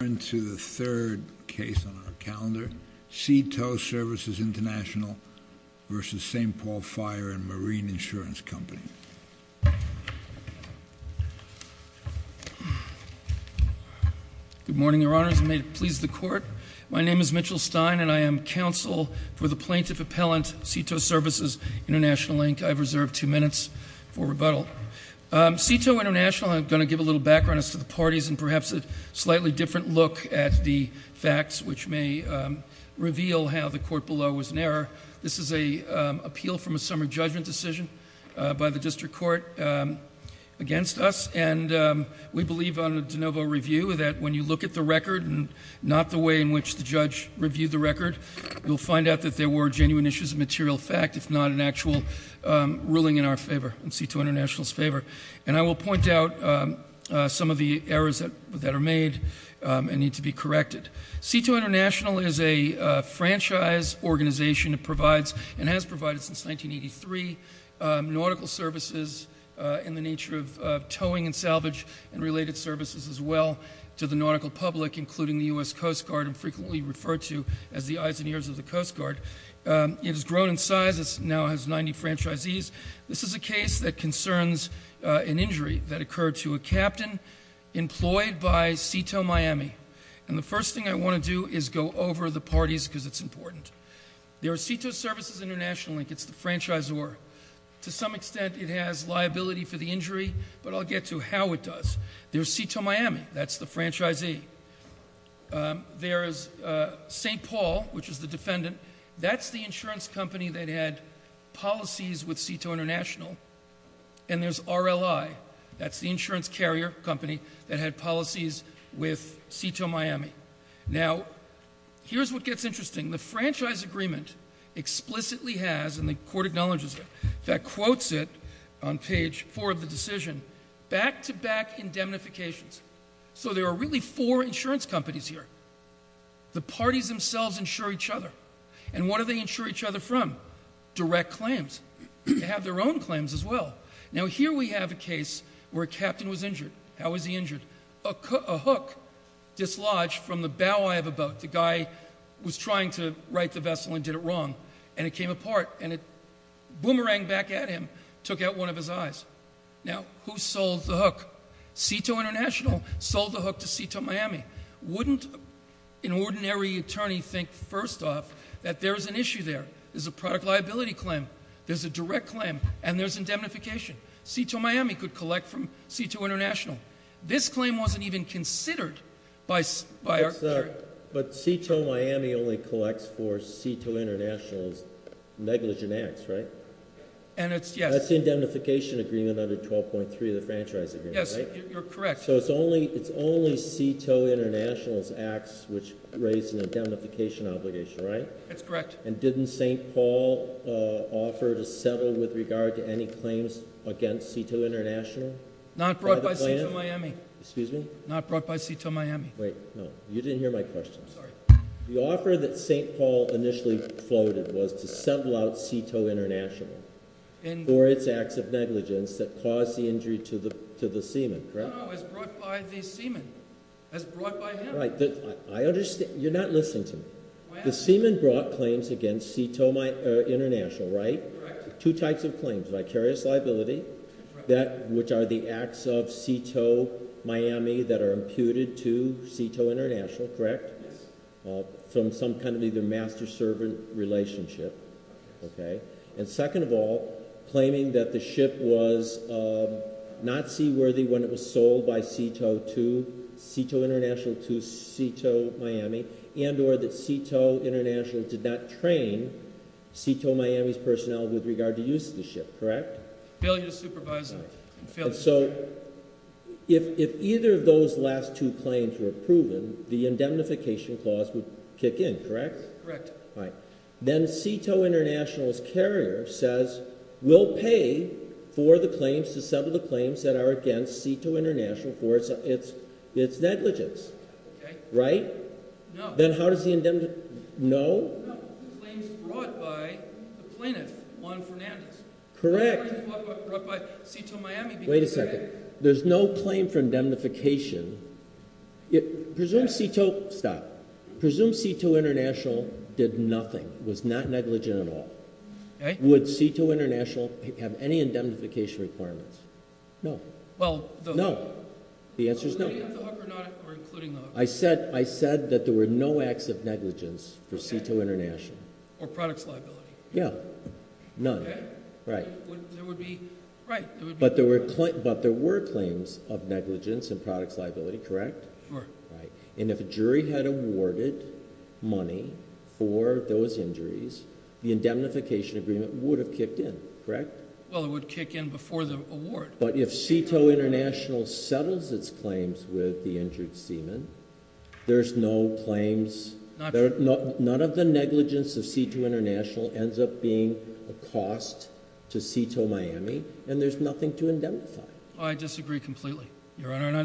Turn to the third case on our calendar, Sea Tow Services International versus St. Paul Fire and Marine Insurance Company. Good morning, Your Honors, and may it please the Court. My name is Mitchell Stein, and I am counsel for the plaintiff appellant, Sea Tow Services International, Inc. I've reserved two minutes for rebuttal. Sea Tow International, I'm going to give a little background as to the parties and perhaps a slightly different look at the facts, which may reveal how the court below was in error. This is an appeal from a summary judgment decision by the district court against us, and we believe on a de novo review that when you look at the record and not the way in which the judge reviewed the record, you'll find out that there were genuine issues of material fact, if not an actual ruling in our favor, in Sea Tow International's favor. And I will point out some of the errors that are made and need to be corrected. Sea Tow International is a franchise organization that provides and has provided since 1983 nautical services in the nature of towing and salvage and related services as well to the nautical public, including the U.S. Coast Guard and frequently referred to as the eyes and ears of the Coast Guard. It has grown in size. It now has 90 franchisees. This is a case that concerns an injury that occurred to a captain employed by Sea Tow Miami. And the first thing I want to do is go over the parties because it's important. There is Sea Tow Services International, and it's the franchisor. To some extent, it has liability for the injury, but I'll get to how it does. There's Sea Tow Miami. That's the franchisee. There is St. Paul, which is the defendant. That's the insurance company that had policies with Sea Tow International. And there's RLI. That's the insurance carrier company that had policies with Sea Tow Miami. Now, here's what gets interesting. The franchise agreement explicitly has, and the court acknowledges it, that quotes it on page 4 of the decision, back-to-back indemnifications. So there are really four insurance companies here. The parties themselves insure each other. And what do they insure each other from? Direct claims. They have their own claims as well. Now, here we have a case where a captain was injured. How was he injured? A hook dislodged from the bow eye of a boat. The guy was trying to right the vessel and did it wrong, and it came apart, and a boomerang back at him took out one of his eyes. Now, who sold the hook? Sea Tow International sold the hook to Sea Tow Miami. Wouldn't an ordinary attorney think, first off, that there's an issue there? There's a product liability claim. There's a direct claim. And there's indemnification. Sea Tow Miami could collect from Sea Tow International. This claim wasn't even considered by our jury. But Sea Tow Miami only collects for Sea Tow International's negligent acts, right? And it's, yes. That's the indemnification agreement under 12.3 of the franchise agreement, right? Yes, you're correct. So it's only Sea Tow International's acts which raise an indemnification obligation, right? That's correct. And didn't St. Paul offer to settle with regard to any claims against Sea Tow International? Not brought by Sea Tow Miami. Excuse me? Not brought by Sea Tow Miami. Wait, no. You didn't hear my question. Sorry. The offer that St. Paul initially floated was to settle out Sea Tow International for its acts of negligence that caused the injury to the seaman, correct? No, no. It was brought by the seaman. It was brought by him. I understand. You're not listening to me. The seaman brought claims against Sea Tow International, right? Correct. Two types of claims. Vicarious liability, which are the acts of Sea Tow Miami that are imputed to Sea Tow International, correct? Yes. From some kind of either master-servant relationship, okay? And second of all, claiming that the ship was not seaworthy when it was sold by Sea Tow 2, Sea Tow International to Sea Tow Miami, and or that Sea Tow International did not train Sea Tow Miami's personnel with regard to use of the ship, correct? Failure to supervise them. And so if either of those last two claims were proven, the indemnification clause would kick in, correct? Correct. All right. Then Sea Tow International's carrier says we'll pay for the claims, to settle the claims that are against Sea Tow International for its negligence. Okay. Right? No. Then how does the indemnification—no? No. The claims brought by the plaintiff, Juan Fernandez. Correct. The claims brought by Sea Tow Miami because— Wait a second. There's no claim for indemnification. Presume Sea Tow—stop. Presume Sea Tow International did nothing, was not negligent at all. Okay. Would Sea Tow International have any indemnification requirements? No. Well, the— No. The answer is no. Including the hook or not including the hook? I said that there were no acts of negligence for Sea Tow International. Okay. Or products liability. Yeah. None. Okay. Right. There would be—right. But there were claims of negligence and products liability, correct? Sure. Right. And if a jury had awarded money for those injuries, the indemnification agreement would have kicked in, correct? Well, it would kick in before the award. But if Sea Tow International settles its claims with the injured seaman, there's no claims— Not true. None of the negligence of Sea Tow International ends up being a cost to Sea Tow Miami, and there's nothing to indemnify. I disagree completely, Your Honor. And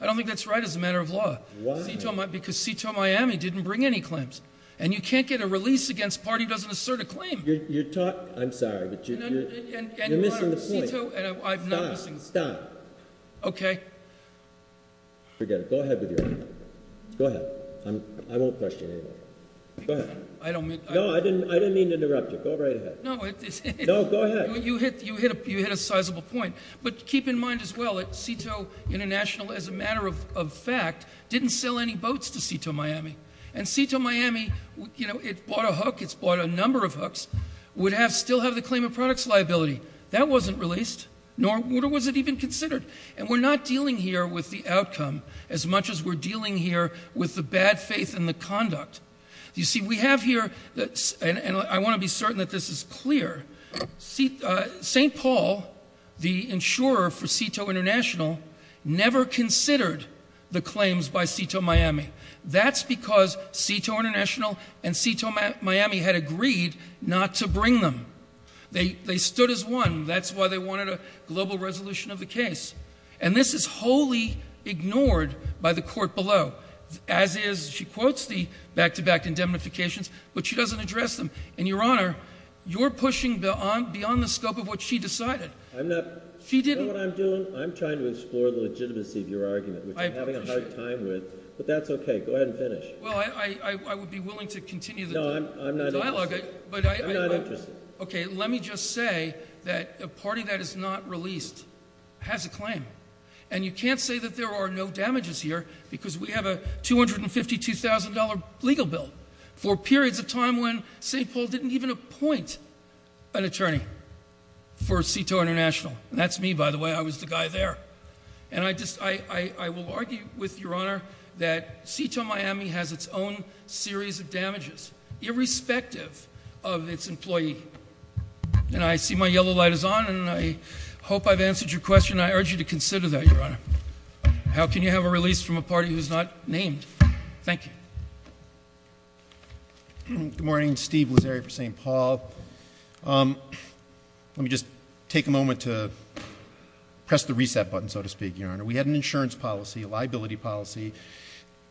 I don't think that's right as a matter of law. Why? Because Sea Tow Miami didn't bring any claims. And you can't get a release against a party who doesn't assert a claim. You're talking—I'm sorry, but you're missing the point. And, Your Honor, Sea Tow— Stop. Stop. Okay. Forget it. Go ahead with your argument. Go ahead. I won't question you anymore. Go ahead. I don't mean— No, I didn't mean to interrupt you. Go right ahead. No, it's— No, go ahead. You hit a sizable point. But keep in mind as well that Sea Tow International, as a matter of fact, didn't sell any boats to Sea Tow Miami. And Sea Tow Miami, you know, it bought a hook, it's bought a number of hooks, would still have the claim of products liability. That wasn't released, nor was it even considered. And we're not dealing here with the outcome as much as we're dealing here with the bad faith and the conduct. You see, we have here—and I want to be certain that this is clear—St. Paul, the insurer for Sea Tow International, never considered the claims by Sea Tow Miami. That's because Sea Tow International and Sea Tow Miami had agreed not to bring them. They stood as one. That's why they wanted a global resolution of the case. And this is wholly ignored by the court below, as is—she quotes the back-to-back indemnifications, but she doesn't address them. And, Your Honor, you're pushing beyond the scope of what she decided. I'm not. You know what I'm doing? I'm trying to explore the legitimacy of your argument, which I'm having a hard time with. But that's okay. Go ahead and finish. Well, I would be willing to continue the dialogue. No, I'm not interested. I'm not interested. Okay, let me just say that a party that is not released has a claim. And you can't say that there are no damages here, because we have a $252,000 legal bill for periods of time when St. Paul didn't even appoint an attorney for Sea Tow International. And that's me, by the way. I was the guy there. And I will argue with Your Honor that Sea Tow Miami has its own series of damages, irrespective of its employee. And I see my yellow light is on, and I hope I've answered your question. I urge you to consider that, Your Honor. How can you have a release from a party who's not named? Thank you. Good morning. Steve Lazzeri for St. Paul. Let me just take a moment to press the reset button, so to speak, Your Honor. We had an insurance policy, a liability policy,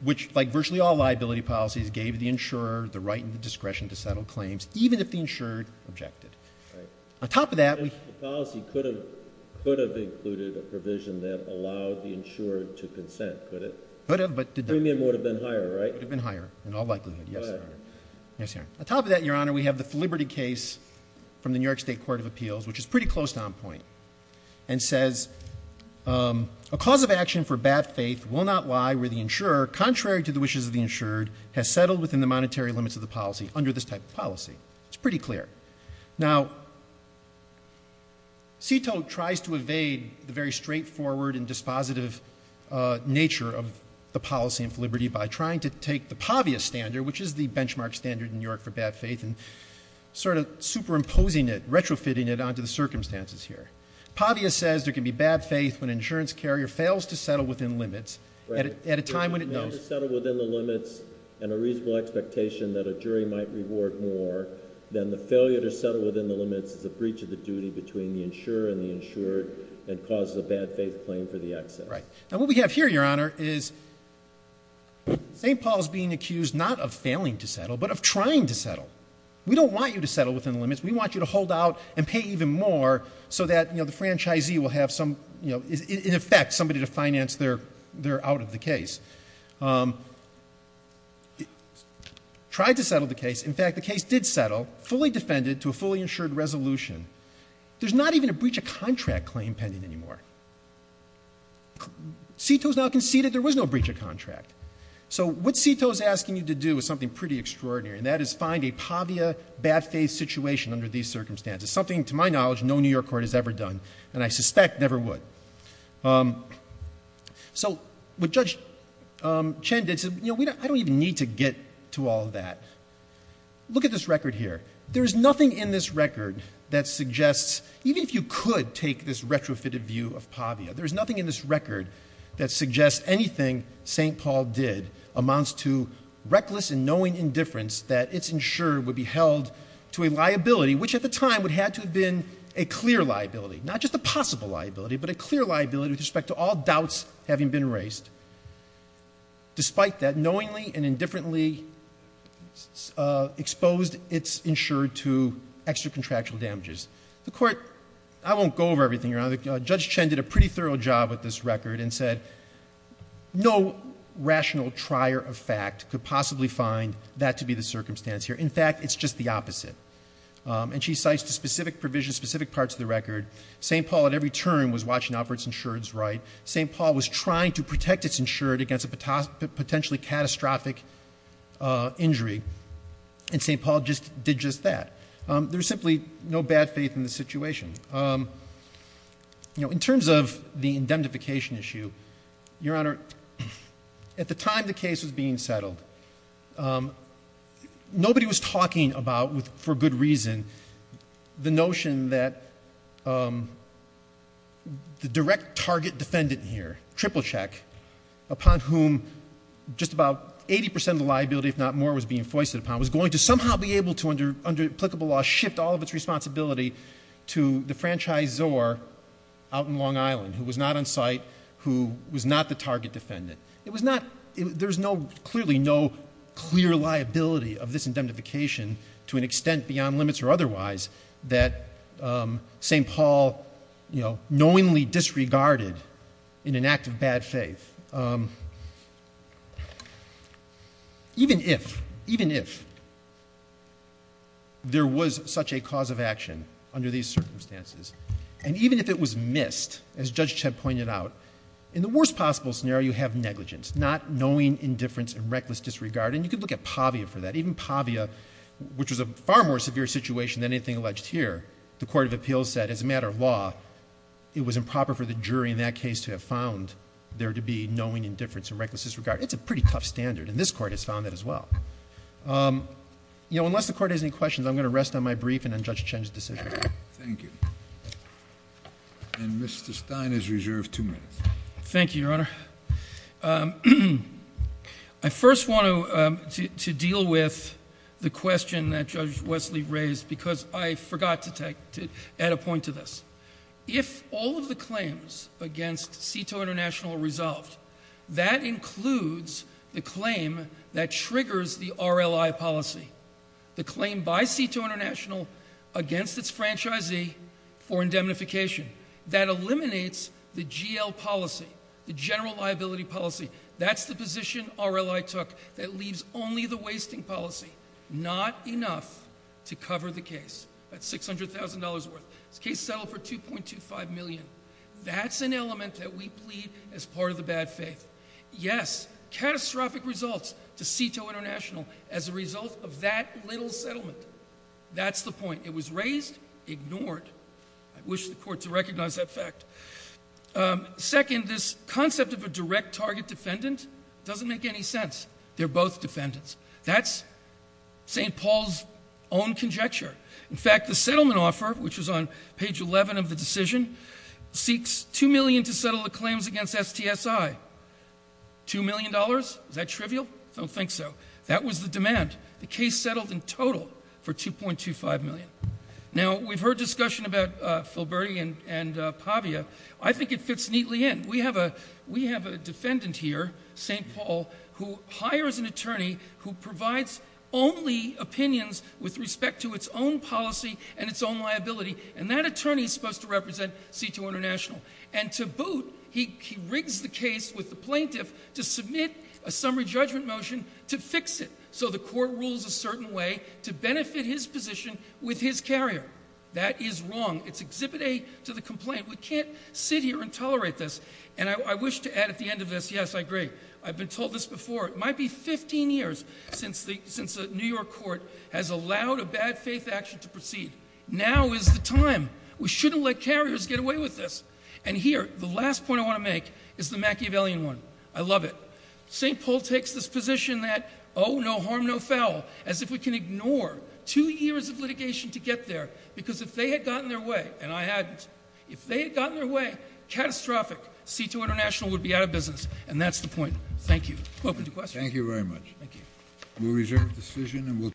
which, like virtually all liability policies, gave the insurer the right and the discretion to settle claims, even if the insurer objected. Right. On top of that, we The policy could have included a provision that allowed the insurer to consent, could it? Could have, but it didn't. The premium would have been higher, right? It would have been higher, in all likelihood. Go ahead. Yes, Your Honor. On top of that, Your Honor, we have the Liberty case from the New York State Court of Appeals, which is pretty close to on point, and says, A cause of action for bad faith will not lie where the insurer, contrary to the wishes of the insured, has settled within the monetary limits of the policy under this type of policy. It's pretty clear. Now, CITO tries to evade the very straightforward and dispositive nature of the policy of Liberty by trying to take the PAVIA standard, which is the benchmark standard in New York for bad faith, and sort of superimposing it, retrofitting it onto the circumstances here. PAVIA says there can be bad faith when an insurance carrier fails to settle within limits at a time when it knows and a reasonable expectation that a jury might reward more than the failure to settle within the limits is a breach of the duty between the insurer and the insured and causes a bad faith claim for the excess. Right. Now, what we have here, Your Honor, is St. Paul is being accused not of failing to settle, but of trying to settle. We don't want you to settle within the limits. We want you to hold out and pay even more so that the franchisee will have some, you know, in effect, somebody to finance their out of the case. Tried to settle the case. In fact, the case did settle, fully defended to a fully insured resolution. There's not even a breach of contract claim pending anymore. CITO has now conceded there was no breach of contract. So what CITO is asking you to do is something pretty extraordinary, and that is find a PAVIA bad faith situation under these circumstances, something, to my knowledge, no New York court has ever done, and I suspect never would. So what Judge Chen did said, you know, I don't even need to get to all of that. Look at this record here. There is nothing in this record that suggests, even if you could take this retrofitted view of PAVIA, there is nothing in this record that suggests anything St. Paul did amounts to reckless and knowing indifference that it's insured would be held to a liability, which at the time would have to have been a clear liability, not just a possible liability, but a clear liability with respect to all doubts having been raised. Despite that, knowingly and indifferently exposed it's insured to extra contractual damages. The court, I won't go over everything here. Judge Chen did a pretty thorough job with this record and said no rational trier of fact could possibly find that to be the circumstance here. In fact, it's just the opposite, and she cites the specific provision, specific parts of the record. St. Paul at every turn was watching out for it's insured right. St. Paul was trying to protect it's insured against a potentially catastrophic injury, and St. Paul did just that. There's simply no bad faith in the situation. In terms of the indemnification issue, Your Honor, at the time the case was being settled, nobody was talking about, for good reason, the notion that the direct target defendant here, Triple Check, upon whom just about 80% of the liability, if not more, was being foisted upon, was going to somehow be able to under applicable law shift all of it's responsibility to the franchisor out in Long Island who was not on site, who was not the target defendant. There's clearly no clear liability of this indemnification to an extent beyond limits or otherwise that St. Paul knowingly disregarded in an act of bad faith. Even if, even if there was such a cause of action under these circumstances, and even if it was missed, as Judge Chet pointed out, in the worst possible scenario you have negligence. Not knowing indifference and reckless disregard, and you could look at Pavia for that. Even Pavia, which was a far more severe situation than anything alleged here, the Court of Appeals said, as a matter of law, it was improper for the jury in that case to have found there to be knowing indifference and reckless disregard. It's a pretty tough standard, and this Court has found that as well. You know, unless the Court has any questions, I'm going to rest on my brief and on Judge Chen's decision. Thank you. And Mr. Stein is reserved two minutes. Thank you, Your Honor. I first want to deal with the question that Judge Wesley raised because I forgot to add a point to this. If all of the claims against CITO International are resolved, that includes the claim that triggers the RLI policy, the claim by CITO International against its franchisee for indemnification. That eliminates the GL policy, the general liability policy. That's the position RLI took that leaves only the wasting policy, not enough to cover the case. That's $600,000 worth. This case settled for $2.25 million. That's an element that we plead as part of the bad faith. Yes, catastrophic results to CITO International as a result of that little settlement. That's the point. It was raised, ignored. I wish the Court to recognize that fact. Second, this concept of a direct target defendant doesn't make any sense. They're both defendants. That's St. Paul's own conjecture. In fact, the settlement offer, which is on page 11 of the decision, seeks $2 million to settle the claims against STSI. $2 million? Is that trivial? I don't think so. That was the demand. The case settled in total for $2.25 million. Now, we've heard discussion about Filberti and Pavia. I think it fits neatly in. We have a defendant here, St. Paul, who hires an attorney who provides only opinions with respect to its own policy and its own liability. And that attorney is supposed to represent CITO International. And to boot, he rigs the case with the plaintiff to submit a summary judgment motion to fix it So the Court rules a certain way to benefit his position with his carrier. That is wrong. It's Exhibit A to the complaint. We can't sit here and tolerate this. And I wish to add at the end of this, yes, I agree. I've been told this before. It might be 15 years since the New York Court has allowed a bad faith action to proceed. Now is the time. We shouldn't let carriers get away with this. And here, the last point I want to make is the Machiavellian one. I love it. St. Paul takes this position that, oh, no harm, no foul, as if we can ignore two years of litigation to get there. Because if they had gotten their way, and I hadn't, if they had gotten their way, catastrophic. CITO International would be out of business. And that's the point. Thank you. Open to questions. Thank you very much. Thank you.